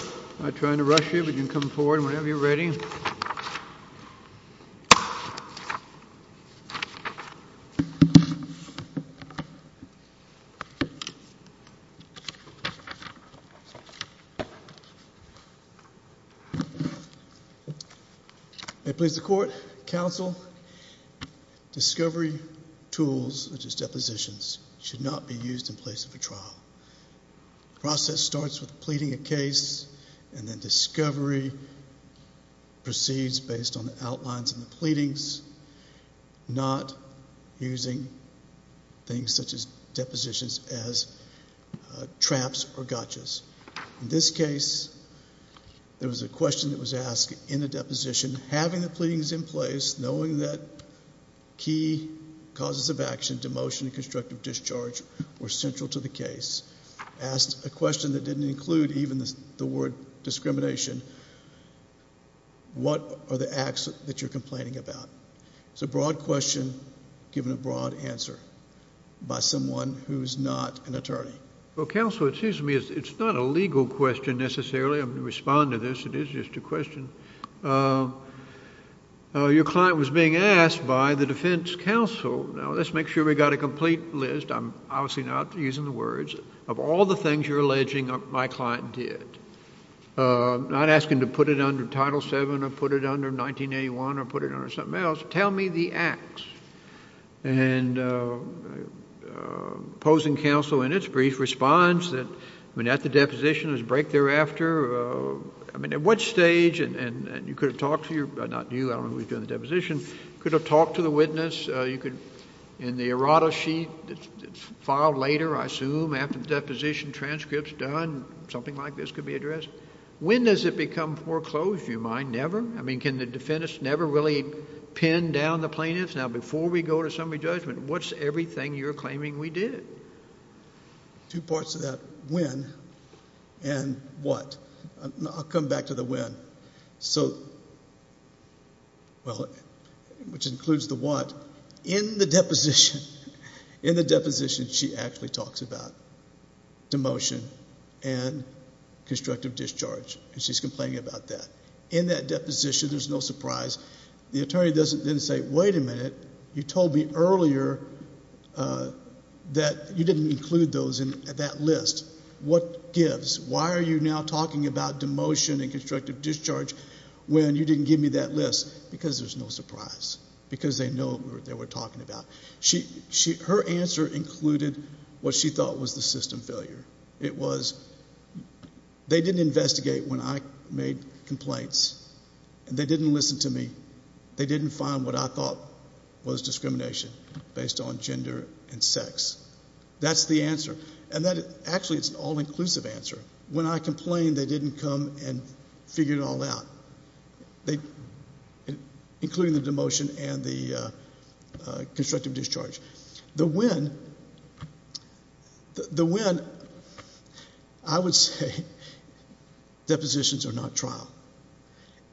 I'm not trying to rush you, but you can come forward whenever you're ready. May it please the Court, Counsel, discovery tools, such as depositions, The process starts with pleading a case and then discovery proceeds based on the outlines of the pleadings, not using things such as depositions as traps or gotchas. In this case, there was a question that was asked in the deposition, having the pleadings in place, knowing that key causes of action, demotion and constructive discharge were central to the case, asked a question that didn't include even the word discrimination. What are the acts that you're complaining about? It's a broad question given a broad answer by someone who's not an attorney. Well, Counsel, it seems to me it's not a legal question necessarily. I'm going to respond to this. It is just a question. Your client was being asked by the defense counsel, now let's make sure we've got a obviously not using the words, of all the things you're alleging my client did. I'm not asking to put it under Title VII or put it under 1981 or put it under something else. Tell me the acts. And opposing counsel in its brief response that when at the deposition, there's a break thereafter, I mean, at what stage, and you could have talked to your, not you, I don't know who was doing the deposition, could have talked to the witness. You could, in the errata sheet, filed later, I assume, after the deposition, transcripts done, something like this could be addressed. When does it become foreclosed, do you mind? Never? I mean, can the defendants never really pin down the plaintiffs? Now, before we go to summary judgment, what's everything you're claiming we did? Two parts of that, when, and what. I'll come back to the when. So, well, which includes the what, in the deposition, in the deposition, she actually talks about demotion and constructive discharge. She's complaining about that. In that deposition, there's no surprise. The attorney doesn't then say, wait a minute, you told me earlier that you didn't include those in that list. What gives? Why are you now talking about demotion and constructive discharge when you didn't give me that list? Because there's no surprise. Because they know what they were talking about. Her answer included what she thought was the system failure. It was, they didn't investigate when I made complaints. They didn't listen to me. was discrimination based on gender and sex. That's the answer. And that, actually, it's an all-inclusive answer. When I complained, they didn't come and figure it all out. They, including the demotion and the constructive discharge. The when, the when, I would say depositions are not trial.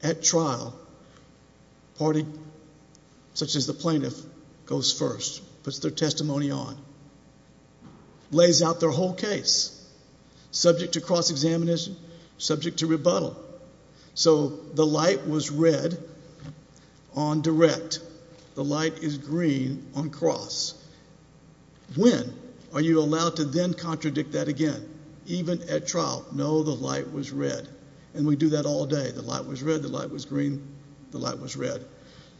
At trial, a party such as the plaintiff goes first, puts their testimony on, lays out their whole case, subject to cross-examination, subject to rebuttal. So, the light was red on direct. The light is green on cross. When are you allowed to then contradict that again? Even at trial, no, the light was red. And we do that all day. The light was red, the light was green, the light was red.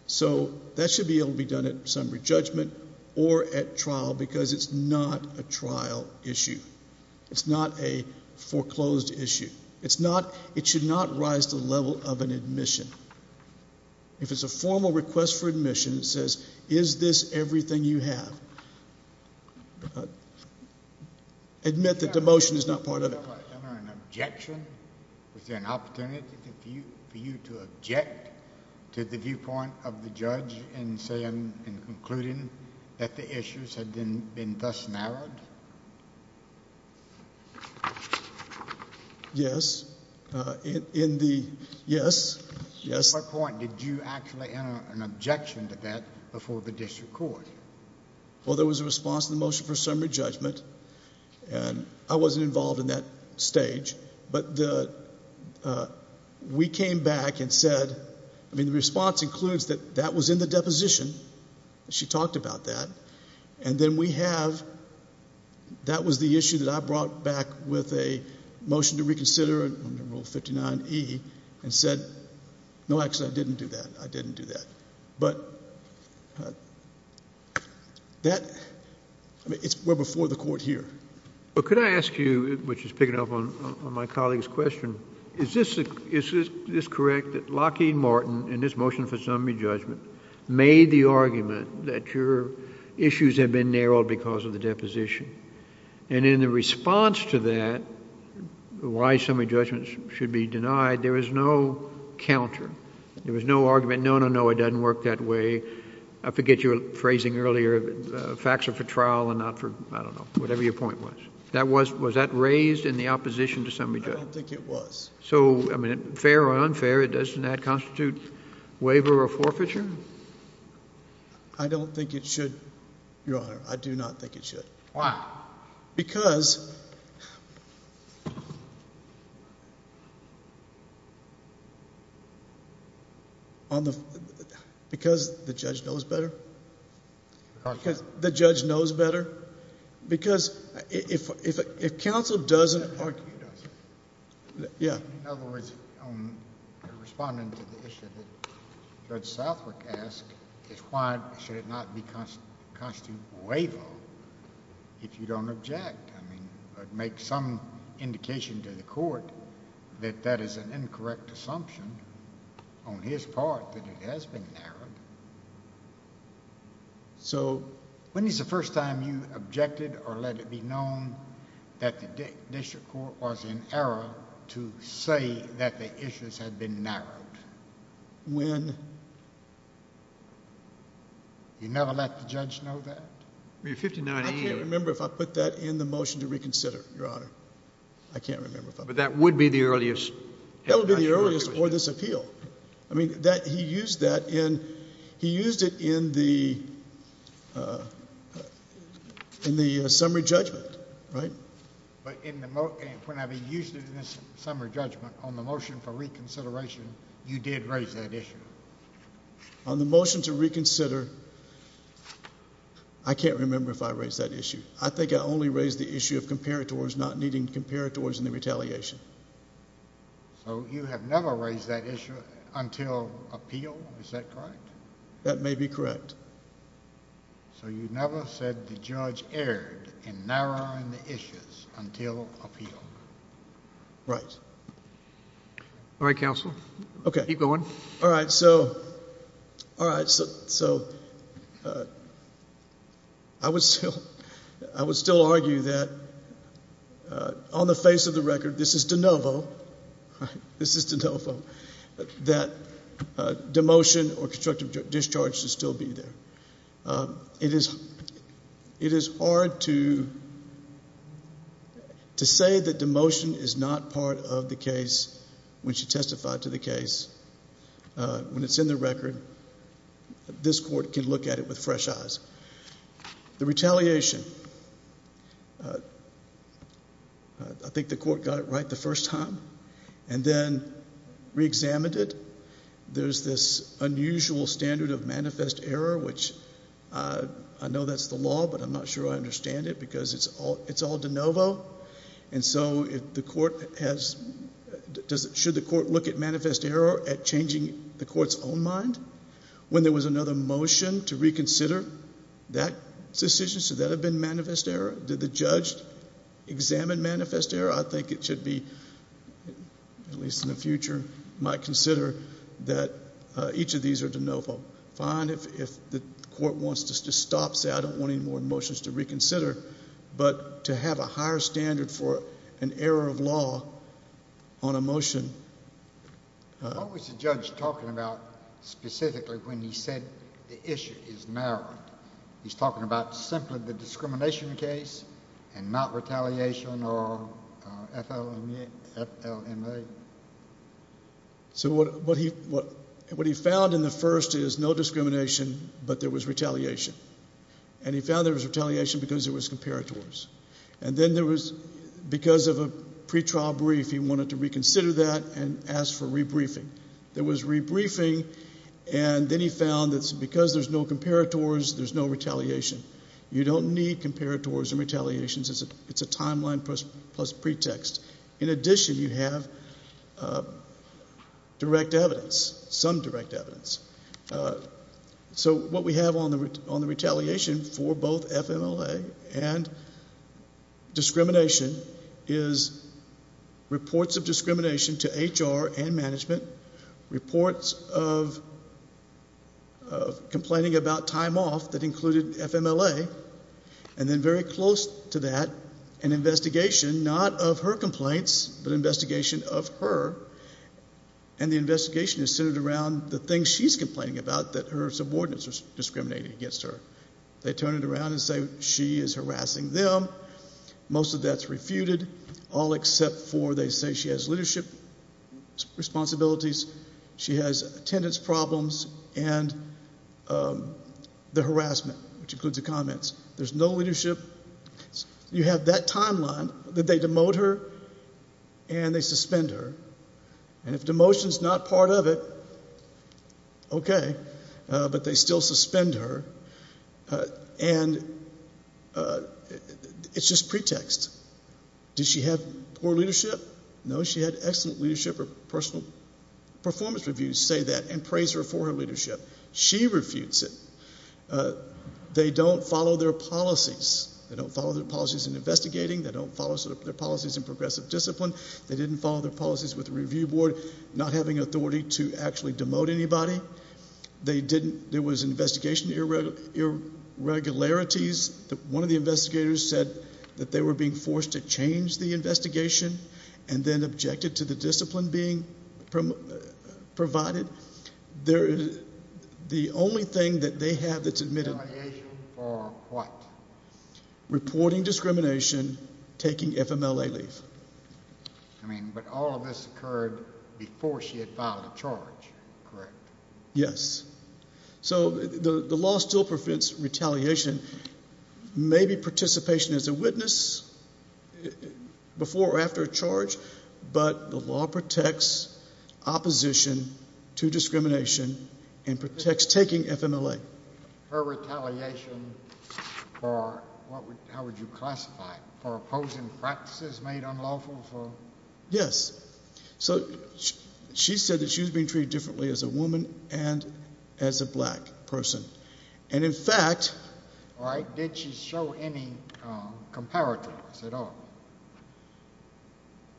So, that should be able to be done at summary judgment or at trial because it's not a trial issue. It's not a foreclosed issue. It's not, it should not rise to the level of an admission. If it's a formal request for admission, it says, is this everything you have? Admit that demotion is not part of it. Is there an objection? Is there an opportunity for you to object to the viewpoint of the judge in saying, in concluding that the issues had been thus narrowed? Yes, in the, yes, yes. At what point did you actually enter an objection to that before the district court? Well, there was a response to the motion for summary judgment, and I wasn't involved in that stage, but the, we came back and said, I mean, the response includes that that was in the deposition. She talked about that. And then we have, that was the issue that I brought back with a motion to reconsider and rule 59E and said, no, actually, I didn't do that. I didn't do that. But that, I mean, it's well before the court here. Well, could I ask you, which is picking up on my colleague's question, is this correct that Lockheed Martin in this motion for summary judgment made the argument that your issues had been narrowed because of the deposition? And in the response to that, why summary judgment should be denied, there was no counter. There was no argument. No, no, no, it doesn't work that way. I forget your phrasing earlier. Facts are for trial and not for, I don't know, whatever your point was. That was, was that raised in the opposition to summary judgment? I don't think it was. So, I mean, fair or unfair, doesn't that constitute waiver or forfeiture? I don't think it should, Your Honor. I do not think it should. Why? Because, because the judge knows better. The judge knows better. Because if counsel doesn't argue, yeah. In other words, responding to the issue that Judge Southwick asked, is why should it not be constituted waiver if you don't object? I mean, make some indication to the court that that is an incorrect assumption on his part that it has been narrowed. So, When is the first time you objected or let it be known that the district court was in error to say that the issues had been narrowed? When? You never let the judge know that? I mean, 59A. I can't remember if I put that in the motion to reconsider, Your Honor. I can't remember if I put that in. But that would be the earliest. That would be the earliest for this appeal. I mean, that he used that in, he used it in the summary judgment, right? But when I used it in the summary judgment on the motion for reconsideration, you did raise that issue. On the motion to reconsider, I can't remember if I raised that issue. I think I only raised the issue of comparators not needing comparators in the retaliation. So you have never raised that issue until appeal? Is that correct? That may be correct. So you never said the judge erred in narrowing the issues until appeal? Right. All right, counsel. Okay. Keep going. All right, so, all right, so, I would still argue that on the face of the record, this is de novo, this is de novo, that demotion or constructive discharge should still be there. It is hard to say that demotion is not part of the case when she testified to the case. When it's in the record, this court can look at it with fresh eyes. The retaliation, I think the court got it right the first time, and then reexamined it. There's this unusual standard of manifest error, which I know that's the law, but I'm not sure I understand it because it's all de novo. And so should the court look at manifest error at changing the court's own mind when there was another motion to reconsider that decision? Should that have been manifest error? Did the judge examine manifest error? I think it should be, at least in the future, might consider that each of these are de novo. Fine if the court wants to stop, say I don't want any more motions to reconsider, but to have a higher standard for an error of law on a motion. What was the judge talking about specifically when he said the issue is narrowing? He's talking about simply the discrimination case and not retaliation or FLMA? So what he found in the first is no discrimination, but there was retaliation. And he found there was retaliation because there was comparators. And then there was, because of a pretrial brief, he wanted to reconsider that and ask for rebriefing. There was rebriefing, and then he found that because there's no comparators, there's no retaliation. You don't need comparators and retaliations. It's a timeline plus pretext. In addition, you have direct evidence, some direct evidence. So what we have on the retaliation for both FLMA and discrimination is reports of discrimination to HR and management, reports of complaining about time off that included FMLA, and then very close to that, an investigation, not of her complaints, but investigation of her. And the investigation is centered around the things she's complaining about that her subordinates are discriminating against her. They turn it around and say she is harassing them. Most of that's refuted, all except for they say she has leadership responsibilities, she has attendance problems, and the harassment, which includes the comments. There's no leadership. You have that timeline that they demote her and they suspend her, and if demotion's not part of it, okay, but they still suspend her, and it's just pretext. Did she have poor leadership? No, she had excellent leadership or personal performance reviews say that and praise her for her leadership. She refutes it. They don't follow their policies. They don't follow their policies in investigating. They don't follow their policies in progressive discipline. They didn't follow their policies with the review board, not having authority to actually demote anybody. They didn't, there was investigation irregularities. One of the investigators said that they were being forced to change the investigation and then objected to the discipline being provided. The only thing that they have that's admitted... Retaliation for what? Reporting discrimination, taking FMLA leave. I mean, but all of this occurred before she had filed a charge, correct? Yes. So the law still prevents retaliation. Maybe participation as a witness before or after a charge, but the law protects opposition to discrimination and protects taking FMLA. Her retaliation for, how would you classify it? For opposing practices made unlawful? Yes. So she said that she was being treated differently as a woman and as a black person. And in fact... Did she show any comparators at all?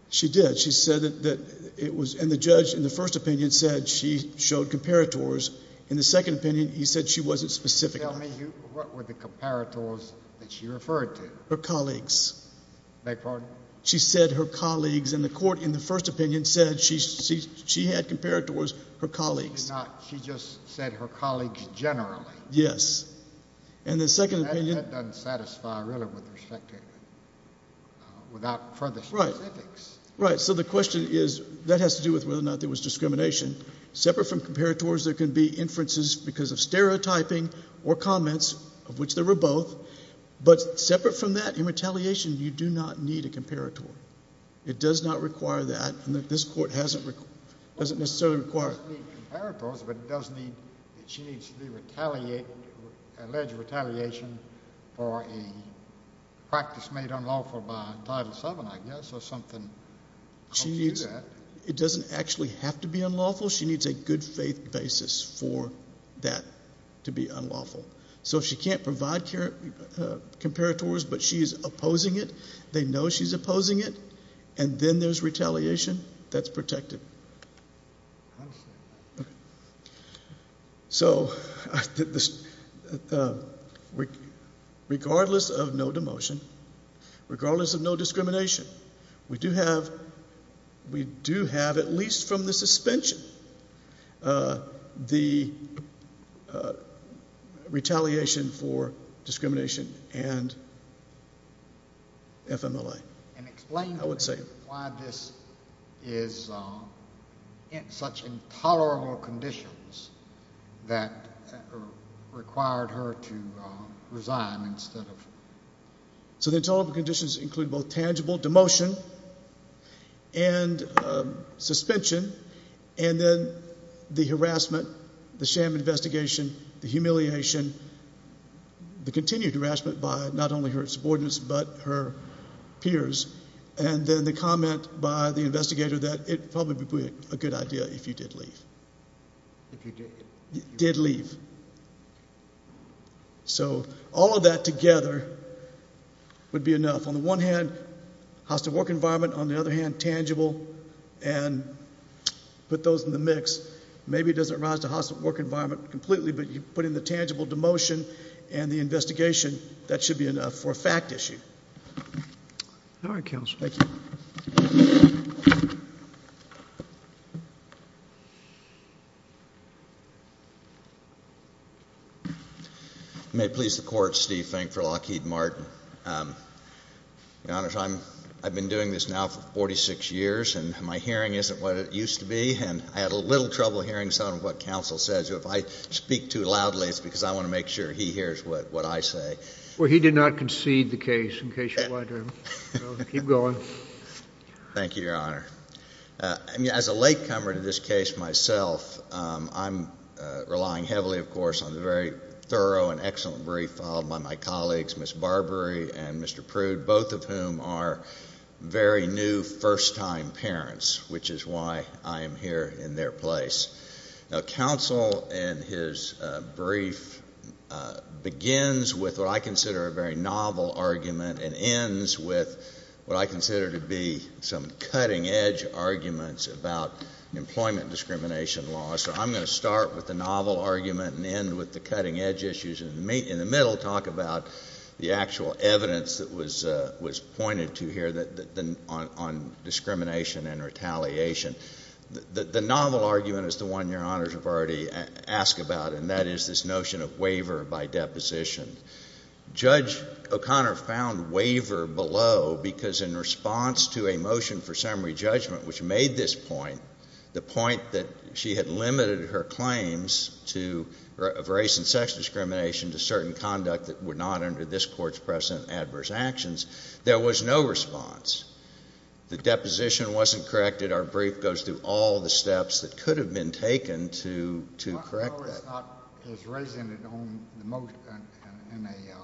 She did. She said that it was, and the judge in the first opinion said she showed comparators. In the second opinion, he said she wasn't specific. Tell me, what were the comparators that she referred to? Her colleagues. Beg your pardon? She said her colleagues in the court, in the first opinion said she had comparators, her colleagues. She just said her colleagues generally. Yes. And the second opinion... That doesn't satisfy really with respect to, without further specifics. Right, so the question is, that has to do with whether or not there was discrimination. Separate from comparators, there can be inferences because of stereotyping or comments of which there were both. But separate from that, in retaliation, you do not need a comparator. It does not require that, and this court doesn't necessarily require it. It does need comparators, but it does need, she needs the alleged retaliation for a practice made unlawful by Title VII, I guess, or something. She needs, it doesn't actually have to be unlawful. She needs a good faith basis for that to be unlawful. So if she can't provide comparators, but she is opposing it, they know she's opposing it, and then there's retaliation, that's protected. I understand that. Okay. So, regardless of no demotion, regardless of no discrimination, we do have, we do have, at least from the suspension, the retaliation for discrimination and FMLA. And explain to me. I would say. Why this is in such intolerable conditions that required her to resign instead of. So the intolerable conditions include both tangible demotion and suspension, and then the harassment, the sham investigation, the humiliation, the continued harassment by not only her subordinates, but her peers. And then the comment by the investigator that it probably would be a good idea if you did leave. If you did? Did leave. So all of that together would be enough. On the one hand, hostile work environment, on the other hand, tangible. And put those in the mix, maybe it doesn't rise to hostile work environment completely, but you put in the tangible demotion and the investigation, that should be enough for a fact issue. All right, counsel. Thank you. May it please the court, Steve Fink for Lockheed Martin. Your Honor, I've been doing this now for 46 years and my hearing isn't what it used to be. And I had a little trouble hearing some of what counsel says if I speak too loudly, it's because I want to make sure he hears what I say. Well, he did not concede the case in case you wanted him. Keep going. Thank you, Your Honor. I mean, as a late comer to this case myself, I'm relying heavily, of course, on the very thorough and excellent brief followed by my colleagues, Ms. Barbary and Mr. Prude, both of whom are very new first-time parents, which is why I am here in their place. Now, counsel and his brief begins with what I consider a very novel argument and ends with what I consider to be some cutting-edge arguments about employment discrimination laws. So I'm going to start with the novel argument and end with the cutting-edge issues and in the middle talk about the actual evidence that was pointed to here on discrimination and retaliation. The novel argument is the one Your Honors have already asked about, and that is this notion of waiver by deposition. Judge O'Connor found waiver below because in response to a motion for summary judgment, which made this point, the point that she had limited her claims to race and sex discrimination to certain conduct that were not under this Court's present adverse actions, there was no response. The deposition wasn't corrected. Our brief goes through all the steps that could have been taken to correct that. His raising it in a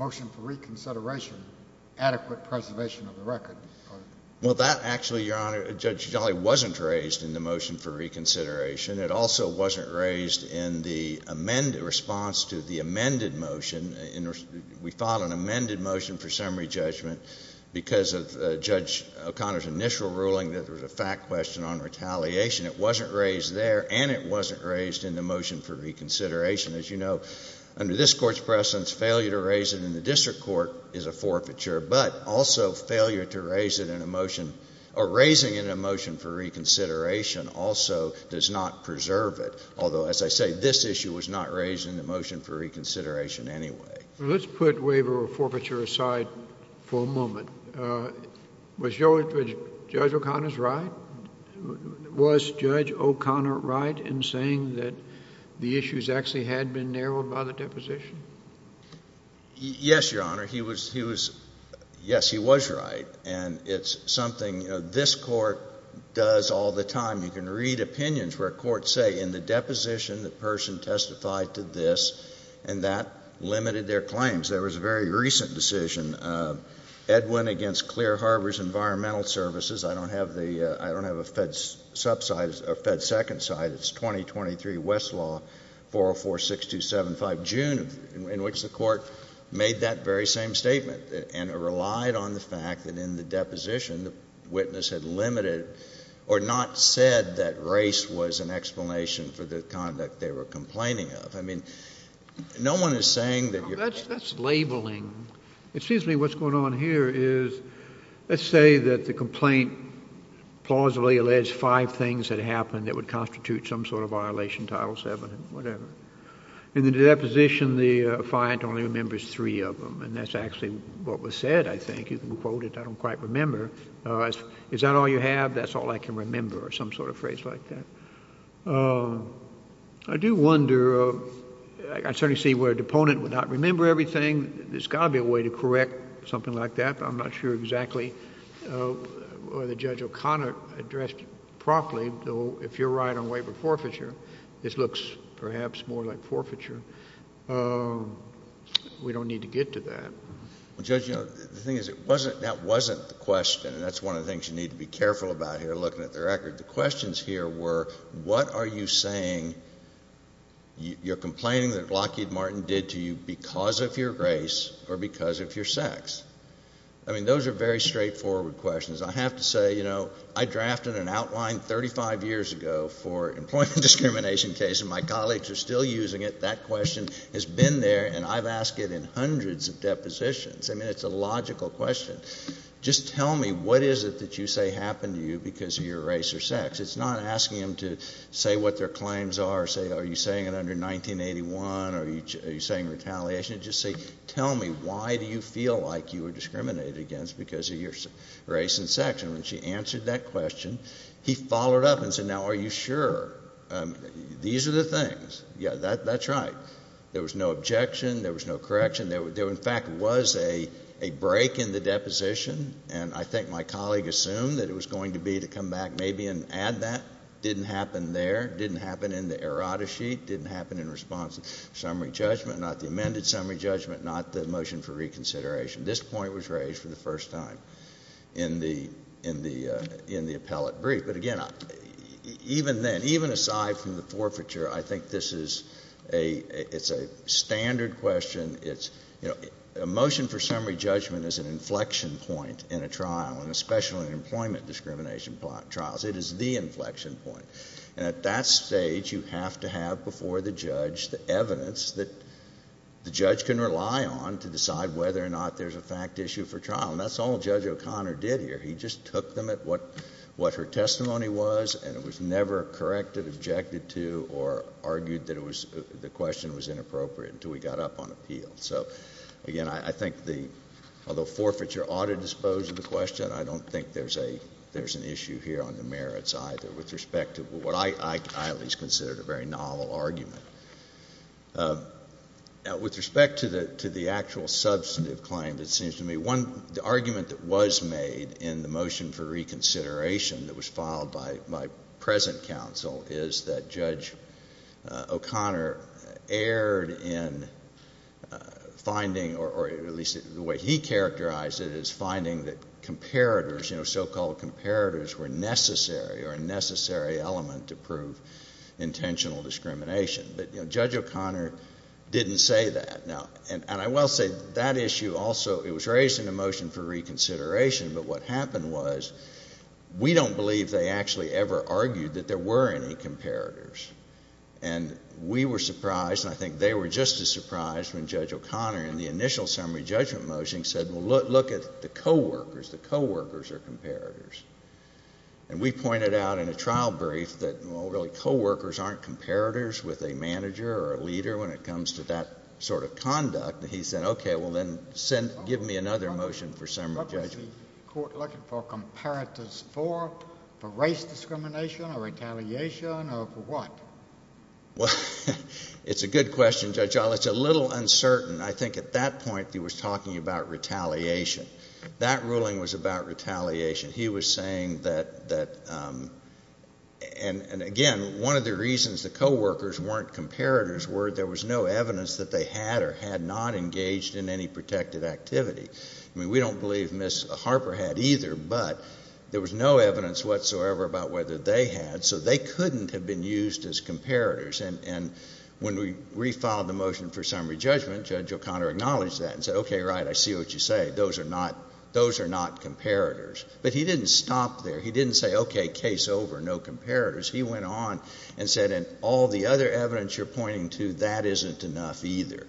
motion for reconsideration, adequate preservation of the record. Well, that actually, Your Honor, Judge Jolly wasn't raised in the motion for reconsideration. It also wasn't raised in the response to the amended motion. We filed an amended motion for summary judgment because of Judge O'Connor's initial ruling that there was a fact question on retaliation. It wasn't raised there, and it wasn't raised in the motion for reconsideration. As you know, under this Court's presence, failure to raise it in the district court is a forfeiture, but also failure to raise it in a motion, or raising it in a motion for reconsideration also does not preserve it. Although, as I say, this issue was not raised in the motion for reconsideration anyway. Let's put waiver or forfeiture aside for a moment. Was Judge O'Connor's right? Was Judge O'Connor right in saying that the issues actually had been narrowed by the deposition? Yes, Your Honor, he was, yes, he was right, and it's something this Court does all the time. You can read opinions where courts say, in the deposition, the person testified to this, and that limited their claims. There was a very recent decision, Edwin against Clear Harbor's Environmental Services. I don't have a Fed's sub-side, or Fed's second side. It's 2023 Westlaw 4046275, June, in which the Court made that very same statement, and it relied on the fact that in the deposition, the witness had limited, or not said that race was an explanation for the conduct they were complaining of. I mean, no one is saying that you're. That's labeling. Excuse me, what's going on here is, let's say that the complaint plausibly alleged five things that happened that would constitute some sort of violation, Title VII, whatever. In the deposition, the defiant only remembers three of them, and that's actually what was said, I think. You can quote it. I don't quite remember. Is that all you have? That's all I can remember, or some sort of phrase like that. I do wonder, I certainly see where a deponent would not remember everything. There's gotta be a way to correct something like that, I'm not sure exactly whether Judge O'Connor addressed it properly, though if you're right on waiver forfeiture, this looks perhaps more like forfeiture. We don't need to get to that. Well Judge, the thing is, that wasn't the question, and that's one of the things you need to be careful about here, looking at the record. The questions here were, what are you saying, you're complaining that Lockheed Martin did to you because of your race, or because of your sex? Those are very straightforward questions. I have to say, I drafted an outline 35 years ago for employment discrimination case, and my colleagues are still using it. That question has been there, and I've asked it in hundreds of depositions. I mean, it's a logical question. Just tell me, what is it that you say happened to you because of your race or sex? It's not asking them to say what their claims are, say, are you saying it under 1981, or are you saying retaliation? Just say, tell me, why do you feel like you were discriminated against because of your race and sex? And when she answered that question, he followed up and said, now are you sure? These are the things. Yeah, that's right. There was no objection, there was no correction. There in fact was a break in the deposition, and I think my colleague assumed that it was going to be to come back maybe and add that. Didn't happen there, didn't happen in the errata sheet, didn't happen in response to summary judgment, not the amended summary judgment, not the motion for reconsideration. This point was raised for the first time in the appellate brief. But again, even then, even aside from the forfeiture, I think this is a standard question. A motion for summary judgment is an inflection point in a trial, and especially in employment discrimination trials. And at that stage, you have to have before the judge the evidence that the judge can rely on to decide whether or not there's a fact issue for trial, and that's all Judge O'Connor did here. He just took them at what her testimony was, and it was never corrected, objected to, or argued that the question was inappropriate until we got up on appeal. So again, I think the, although forfeiture ought to dispose of the question, I don't think there's an issue here on the merits either with respect to what I at least considered a very novel argument. With respect to the actual substantive claim, it seems to me one, the argument that was made in the motion for reconsideration that was filed by present counsel is that Judge O'Connor erred in finding, or at least the way he characterized it is finding that comparators, so-called comparators were necessary or a necessary element to prove intentional discrimination. But Judge O'Connor didn't say that. Now, and I will say that issue also, it was raised in the motion for reconsideration, but what happened was we don't believe they actually ever argued that there were any comparators. And we were surprised, and I think they were just as surprised when Judge O'Connor in the initial summary judgment motion said, well, look at the coworkers, the coworkers are comparators. And we pointed out in a trial brief that, well, really, coworkers aren't comparators with a manager or a leader when it comes to that sort of conduct. He said, okay, well, then give me another motion for summary judgment. What was the court looking for, comparators for, for race discrimination or retaliation, or for what? It's a good question, Judge O'Connor. It's a little uncertain. I think at that point, he was talking about retaliation. That ruling was about retaliation. He was saying that, and again, one of the reasons the coworkers weren't comparators were there was no evidence that they had or had not engaged in any protective activity. I mean, we don't believe Ms. Harper had either, but there was no evidence whatsoever about whether they had, so they couldn't have been used as comparators. And when we refiled the motion for summary judgment, Judge O'Connor acknowledged that and said, okay, right, I see what you say. Those are not, those are not comparators. But he didn't stop there. He didn't say, okay, case over, no comparators. He went on and said, and all the other evidence you're pointing to, that isn't enough either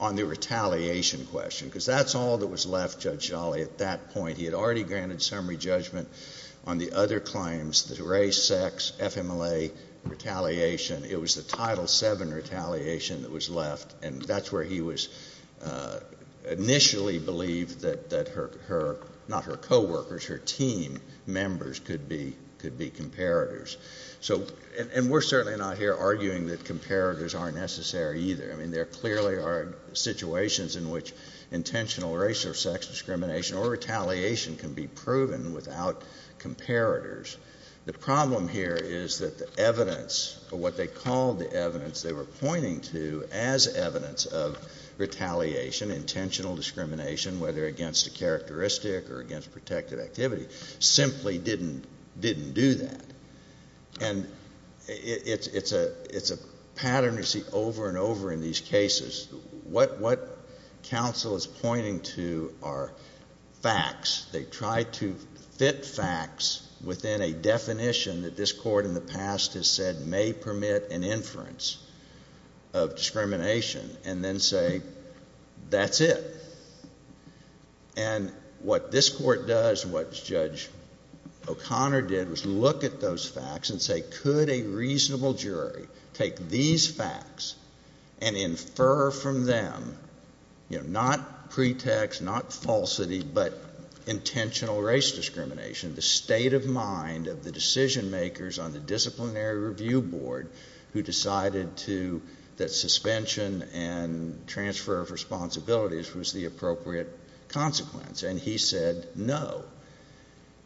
on the retaliation question, because that's all that was left, Judge Jolly, at that point. He had already granted summary judgment on the other claims, the race, sex, FMLA, retaliation. It was the Title VII retaliation that was left, and that's where he was initially believed that her, not her coworkers, her team members could be comparators. So, and we're certainly not here arguing that comparators aren't necessary either. I mean, there clearly are situations in which intentional race or sex discrimination or retaliation can be proven without comparators. The problem here is that the evidence, or what they called the evidence they were pointing to as evidence of retaliation, intentional discrimination, whether against a characteristic or against protective activity, simply didn't do that. And it's a pattern you see over and over in these cases. What counsel is pointing to are facts. They try to fit facts within a definition that this court in the past has said may permit an inference of discrimination, and then say, that's it. And what this court does, what Judge O'Connor did, was look at those facts and say, could a reasonable jury take these facts and infer from them, you know, not pretext, not falsity, but intentional race discrimination, the state of mind of the decision makers on the Disciplinary Review Board who decided that suspension and transfer of responsibilities was the appropriate consequence. And he said, no.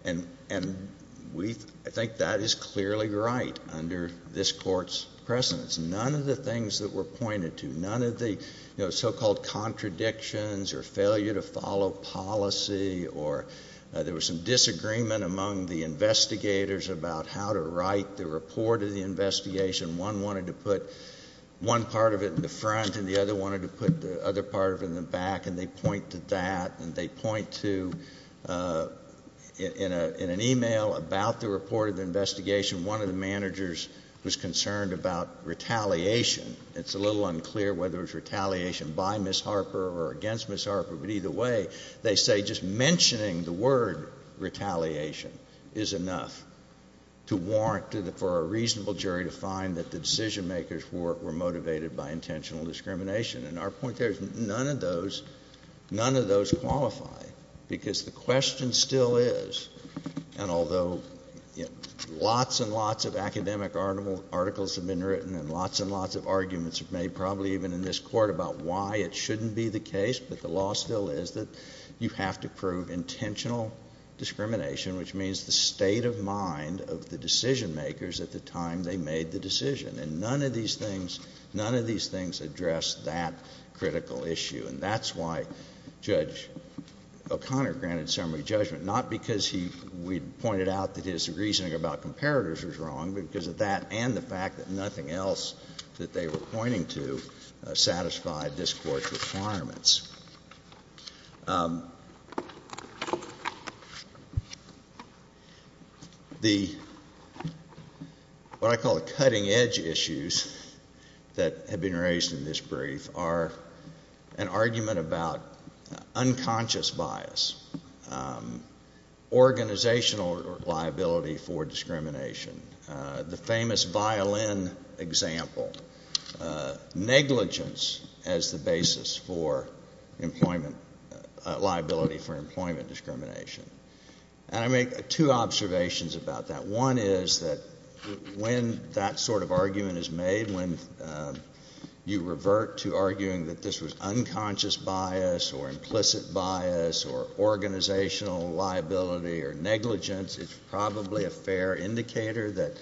And I think that is clearly right under this court's precedence. None of the things that were pointed to, none of the so-called contradictions or failure to follow policy, or there was some disagreement among the investigators about how to write the report of the investigation. One wanted to put one part of it in the front, and the other wanted to put the other part of it in the back, and they point to that. And they point to, in an email about the report of the investigation, one of the managers was concerned about retaliation. It's a little unclear whether it was retaliation by Ms. Harper or against Ms. Harper, but either way, they say just mentioning the word retaliation is enough to warrant for a reasonable jury to find that the decision makers were motivated by intentional discrimination. And our point there is none of those qualify, because the question still is, and although lots and lots of academic articles have been written and lots and lots of arguments have been made, probably even in this court, about why it shouldn't be the case, but the law still is, that you have to prove intentional discrimination, which means the state of mind of the decision makers at the time they made the decision. And none of these things address that critical issue, and that's why Judge O'Connor granted summary judgment, not because we pointed out that his reasoning about comparators was wrong, but because of that and the fact that nothing else that they were pointing to satisfied this court's requirements. The, what I call the cutting edge issues that have been raised in this brief are an argument about unconscious bias, organizational liability for discrimination, the famous violin example, negligence as the basis for employment, liability for employment discrimination. And I make two observations about that. One is that when that sort of argument is made, when you revert to arguing that this was unconscious bias or implicit bias or organizational liability or negligence, it's probably a fair indicator that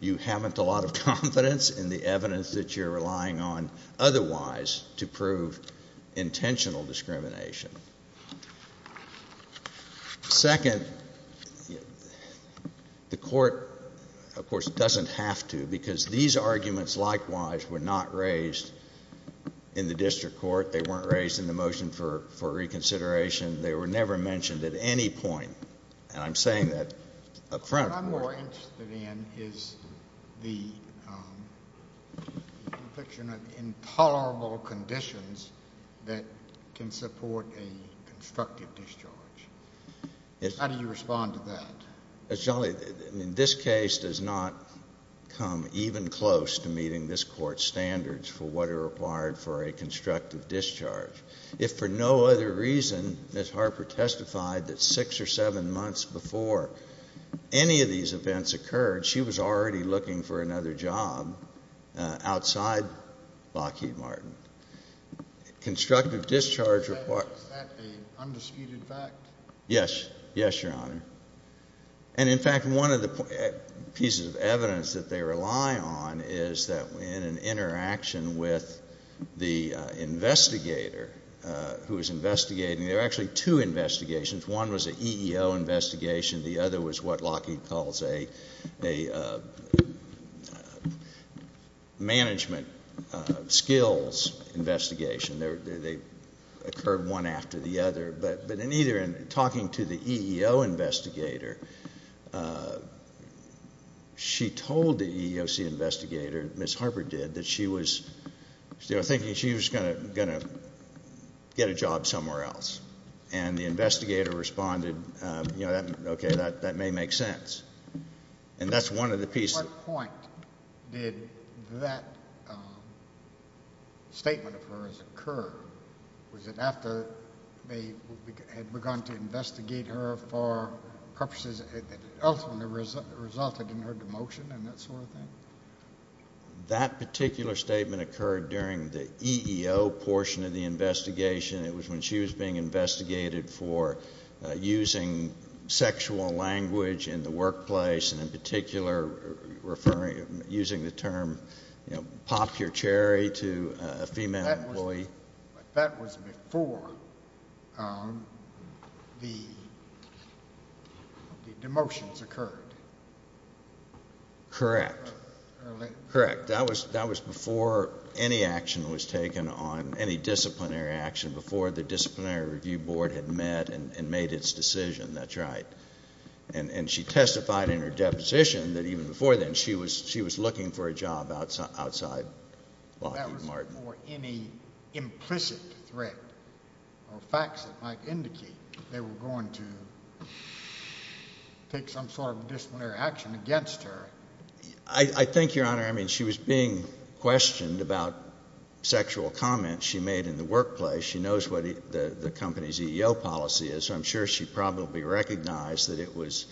you haven't a lot of confidence in the evidence that you're relying on otherwise to prove intentional discrimination. Second, the court, of course, doesn't have to because these arguments likewise were not raised in the district court. They weren't raised in the motion for reconsideration. They were never mentioned at any point. And I'm saying that upfront. What I'm more interested in is the conviction of intolerable conditions that can support a constructive discharge. How do you respond to that? As Johnny, in this case does not come even close to meeting this court standards for what are required for a constructive discharge. If for no other reason, Ms. Harper testified that six or seven months before any of these events occurred, she was already looking for another job outside Lockheed Martin. Constructive discharge requires- Is that an undisputed fact? Yes, yes, your honor. And in fact, one of the pieces of evidence that they rely on is that in an interaction with the investigator who was investigating, there are actually two investigations. One was an EEO investigation. The other was what Lockheed calls a management skills investigation. They occurred one after the other. But in either, in talking to the EEO investigator, she told the EEOC investigator, Ms. Harper did, that she was thinking she was gonna get a job somewhere else. And the investigator responded, you know, okay, that may make sense. And that's one of the pieces- At what point did that statement of hers occur? Was it after they had begun to investigate her for purposes that ultimately resulted in her demotion and that sort of thing? That particular statement occurred during the EEO portion of the investigation. It was when she was being investigated for using sexual language in the workplace and in particular referring, using the term, you know, pop your cherry to a female employee. That was before the demotions occurred. Correct. Correct. That was before any action was taken on any disciplinary action, before the disciplinary review board had met and made its decision. That's right. And she testified in her deposition that even before then, she was looking for a job outside Lockheed Martin. That was before any implicit threat or facts that might indicate they were going to take some sort of disciplinary action against her. I think, Your Honor, I mean, she was being questioned about sexual comments she made in the workplace. She knows what the company's EEO policy is. I'm sure she probably recognized that it was,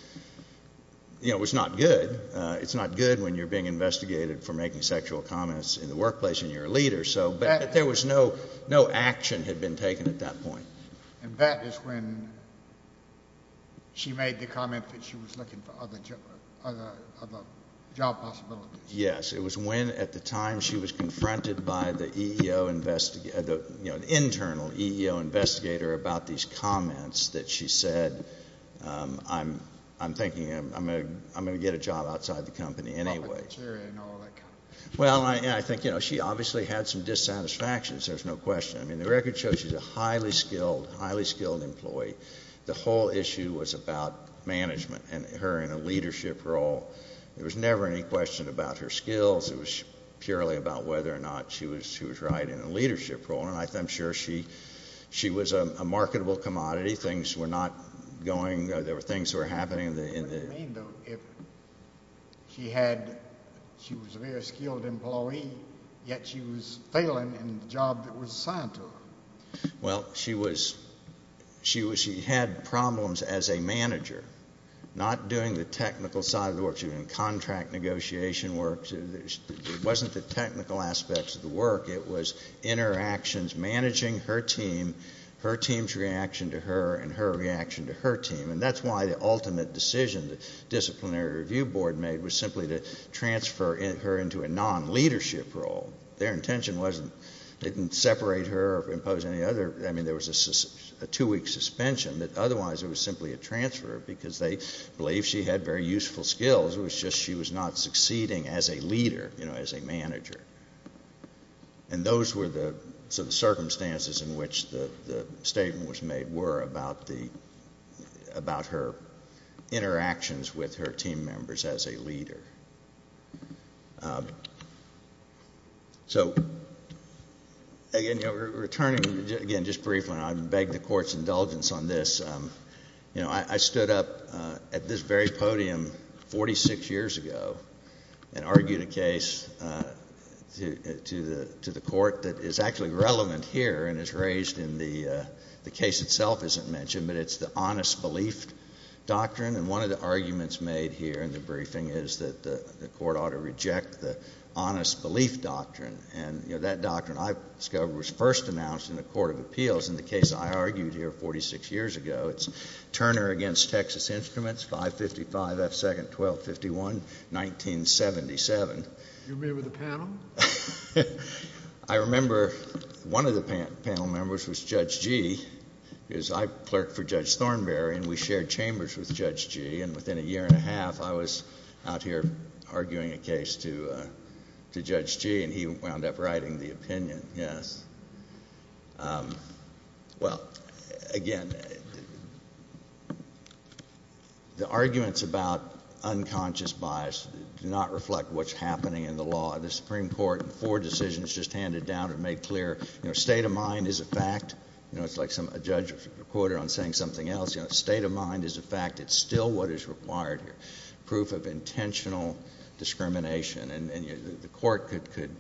you know, it was not good. It's not good when you're being investigated for making sexual comments in the workplace and you're a leader. So there was no action had been taken at that point. And that is when she made the comment that she was looking for other job possibilities. Yes, it was when at the time she was confronted by the EEO investigator, you know, the internal EEO investigator about these comments that she said, I'm thinking I'm going to get a job outside the company anyway. Well, I think, you know, she obviously had some dissatisfactions. There's no question. I mean, the record shows she's a highly skilled, highly skilled employee. The whole issue was about management and her in a leadership role. There was never any question about her skills. It was purely about whether or not she was, she was right in a leadership role. And I'm sure she, she was a marketable commodity. Things were not going, there were things that were happening in the, in the. What do you mean though, if she had, she was a very skilled employee, yet she was failing in the job that was assigned to her? Well, she was, she was, she had problems as a manager, not doing the technical side of the work. She was in contract negotiation work. It wasn't the technical aspects of the work. It was interactions, managing her team, her team's reaction to her and her reaction to her team. And that's why the ultimate decision the disciplinary review board made was simply to transfer her into a non-leadership role. Their intention wasn't, they didn't separate her or impose any other. I mean, there was a two week suspension that otherwise it was simply a transfer because they believe she had very useful skills. It was just she was not succeeding as a leader, you know, as a manager. And those were the circumstances in which the statement was made were about the, about her interactions with her team members as a leader. So again, you know, returning again, just briefly, and I beg the court's indulgence on this. You know, I stood up at this very podium 46 years ago and argued a case to the court that is actually relevant here and is raised in the case itself, as it mentioned, but it's the honest belief doctrine. And one of the arguments made here in the briefing is that the court ought to reject the honest belief doctrine. And, you know, that doctrine I discovered was first announced in the court of appeals in the case I argued here 46 years ago. It's Turner against Texas Instruments, 555 F. Second, 1251, 1977. You remember the panel? I remember one of the panel members was Judge Gee, because I clerked for Judge Thornberry and we shared chambers with Judge Gee. And within a year and a half, I was out here arguing a case to Judge Gee and he wound up writing the opinion, yes. Well, again, the arguments about unconscious bias do not reflect what's happening in the law. The Supreme Court, in four decisions, just handed down and made clear, you know, state of mind is a fact. You know, it's like a judge quoted on saying something else. You know, state of mind is a fact. It's still what is required here. Proof of intentional discrimination. And the court could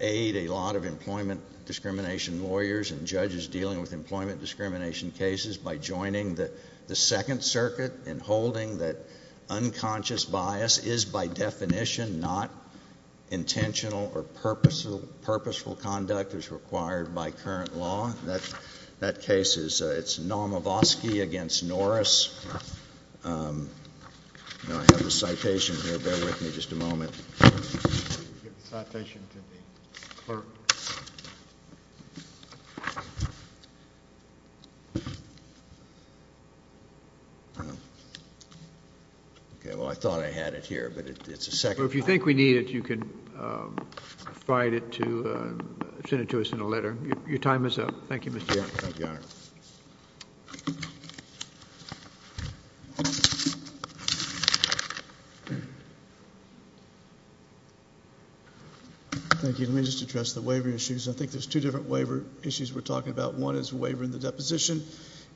aid a lot of employment discrimination lawyers and judges dealing with employment discrimination cases by joining the Second Circuit and holding that unconscious bias is, by definition, not intentional or purposeful conduct as required by current law. That case is Norma Vosky against Norris. You know, I have the citation here. Bear with me just a moment. Citation to the clerk. Okay, well, I thought I had it here, but it's a second... If you think we need it, you can provide it to... Send it to us in a letter. Your time is up. Thank you, Mr. Chairman. Thank you. Let me just address the waiver issues. I think there's two different waiver issues we're talking about. and then the other is a waiver in the deposition.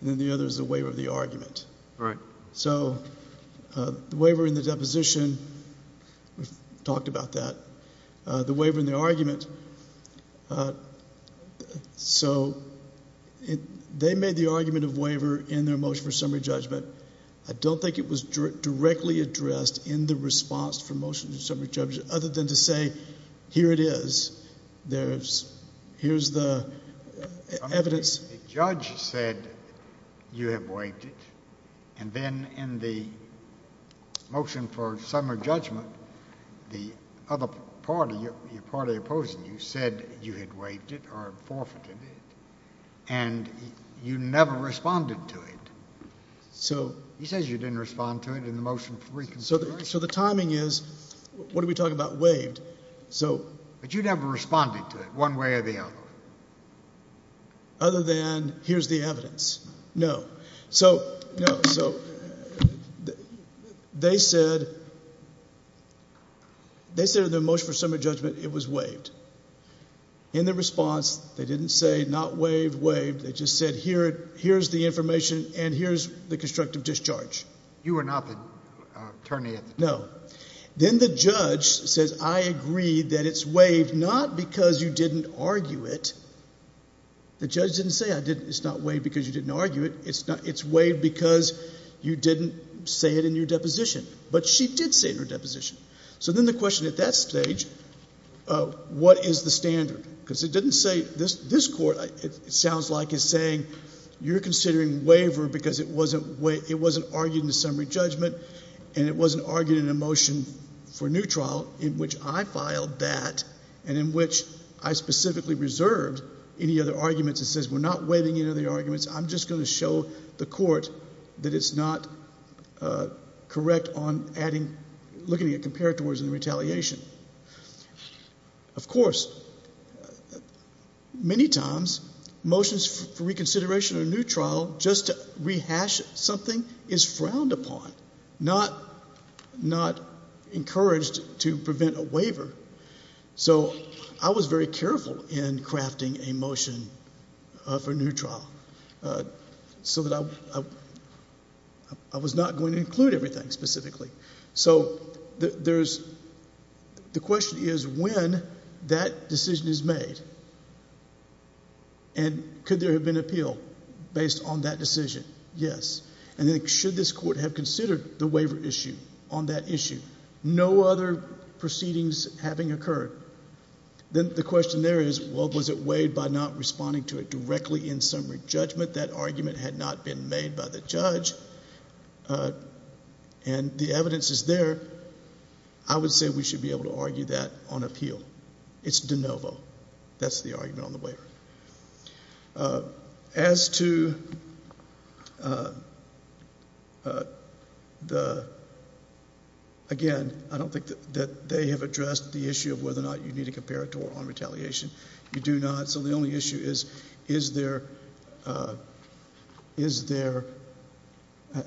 And the other is a waiver of the argument. Right. So, the waiver in the deposition, we've talked about that. The waiver in the argument... So, they made the argument of waiver in their motion for summary judgment. I don't think it was directly addressed in the response for motion to summary judgment other than to say, here it is. There's... Here's the evidence... You have waived it. And then in the motion for summary judgment, the other party, your party opposing you, said you had waived it or forfeited it. And you never responded to it. So... He says you didn't respond to it in the motion for reconsideration. So, the timing is... What are we talking about waived? So... But you never responded to it one way or the other. Other than, here's the evidence. No. So... No. So... They said... They said in their motion for summary judgment, it was waived. In their response, they didn't say, not waived, waived. They just said, here's the information and here's the constructive discharge. You were not the attorney at the time. No. Then the judge says, I agree that it's waived, not because you didn't argue it. The judge didn't say, it's not waived because you didn't argue it. It's waived because you didn't say it in your deposition. But she did say it in her deposition. So, then the question at that stage, what is the standard? Because it didn't say, this court, it sounds like, is saying, you're considering waiver because it wasn't argued in the summary judgment and it wasn't argued in the motion for new trial, in which I filed that, and in which I specifically reserved any other arguments. It says, we're not waiving any other arguments, I'm just going to show the court that it's not correct on looking at comparators in the retaliation. Of course, many times, motions for reconsideration in a new trial, just to rehash something, is frowned upon. Not encouraged to prevent a waiver. So, I was very careful in crafting a motion for a new trial, so that I was not going to include everything specifically. So, the question is, when that decision is made, and could there have been appeal based on that decision? Yes. And should this court have considered the waiver issue on that issue? No other proceedings having occurred. Then the question there is, well, was it weighed by not responding to it directly in summary judgment? That argument had not been made by the judge, and the evidence is there. I would say we should be able to argue that on appeal. It's de novo. That's the argument on the waiver. As to the, again, I don't think that they have addressed the issue of whether or not you need a comparator on retaliation. You do not. So, the only issue is, is there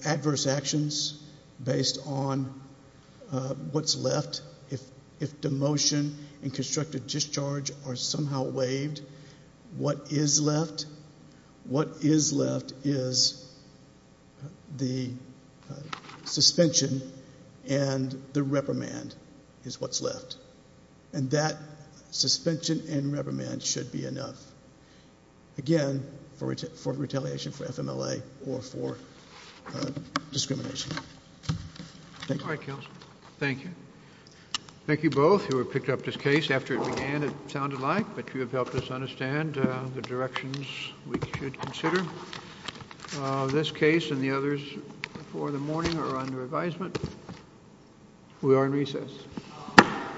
adverse actions based on what's left? If demotion and constructive discharge are somehow waived, what is left? What is left is the suspension and the reprimand is what's left. And that suspension and reprimand should be enough, again, for retaliation for FMLA or for discrimination. Thank you. All right, counsel. Thank you. Thank you both who have picked up this case. After it began, it sounded like, but you have helped us understand the directions we should consider. This case and the others before the morning are under advisement. We are in recess. I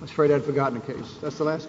was afraid I'd forgotten a case. That's the last case?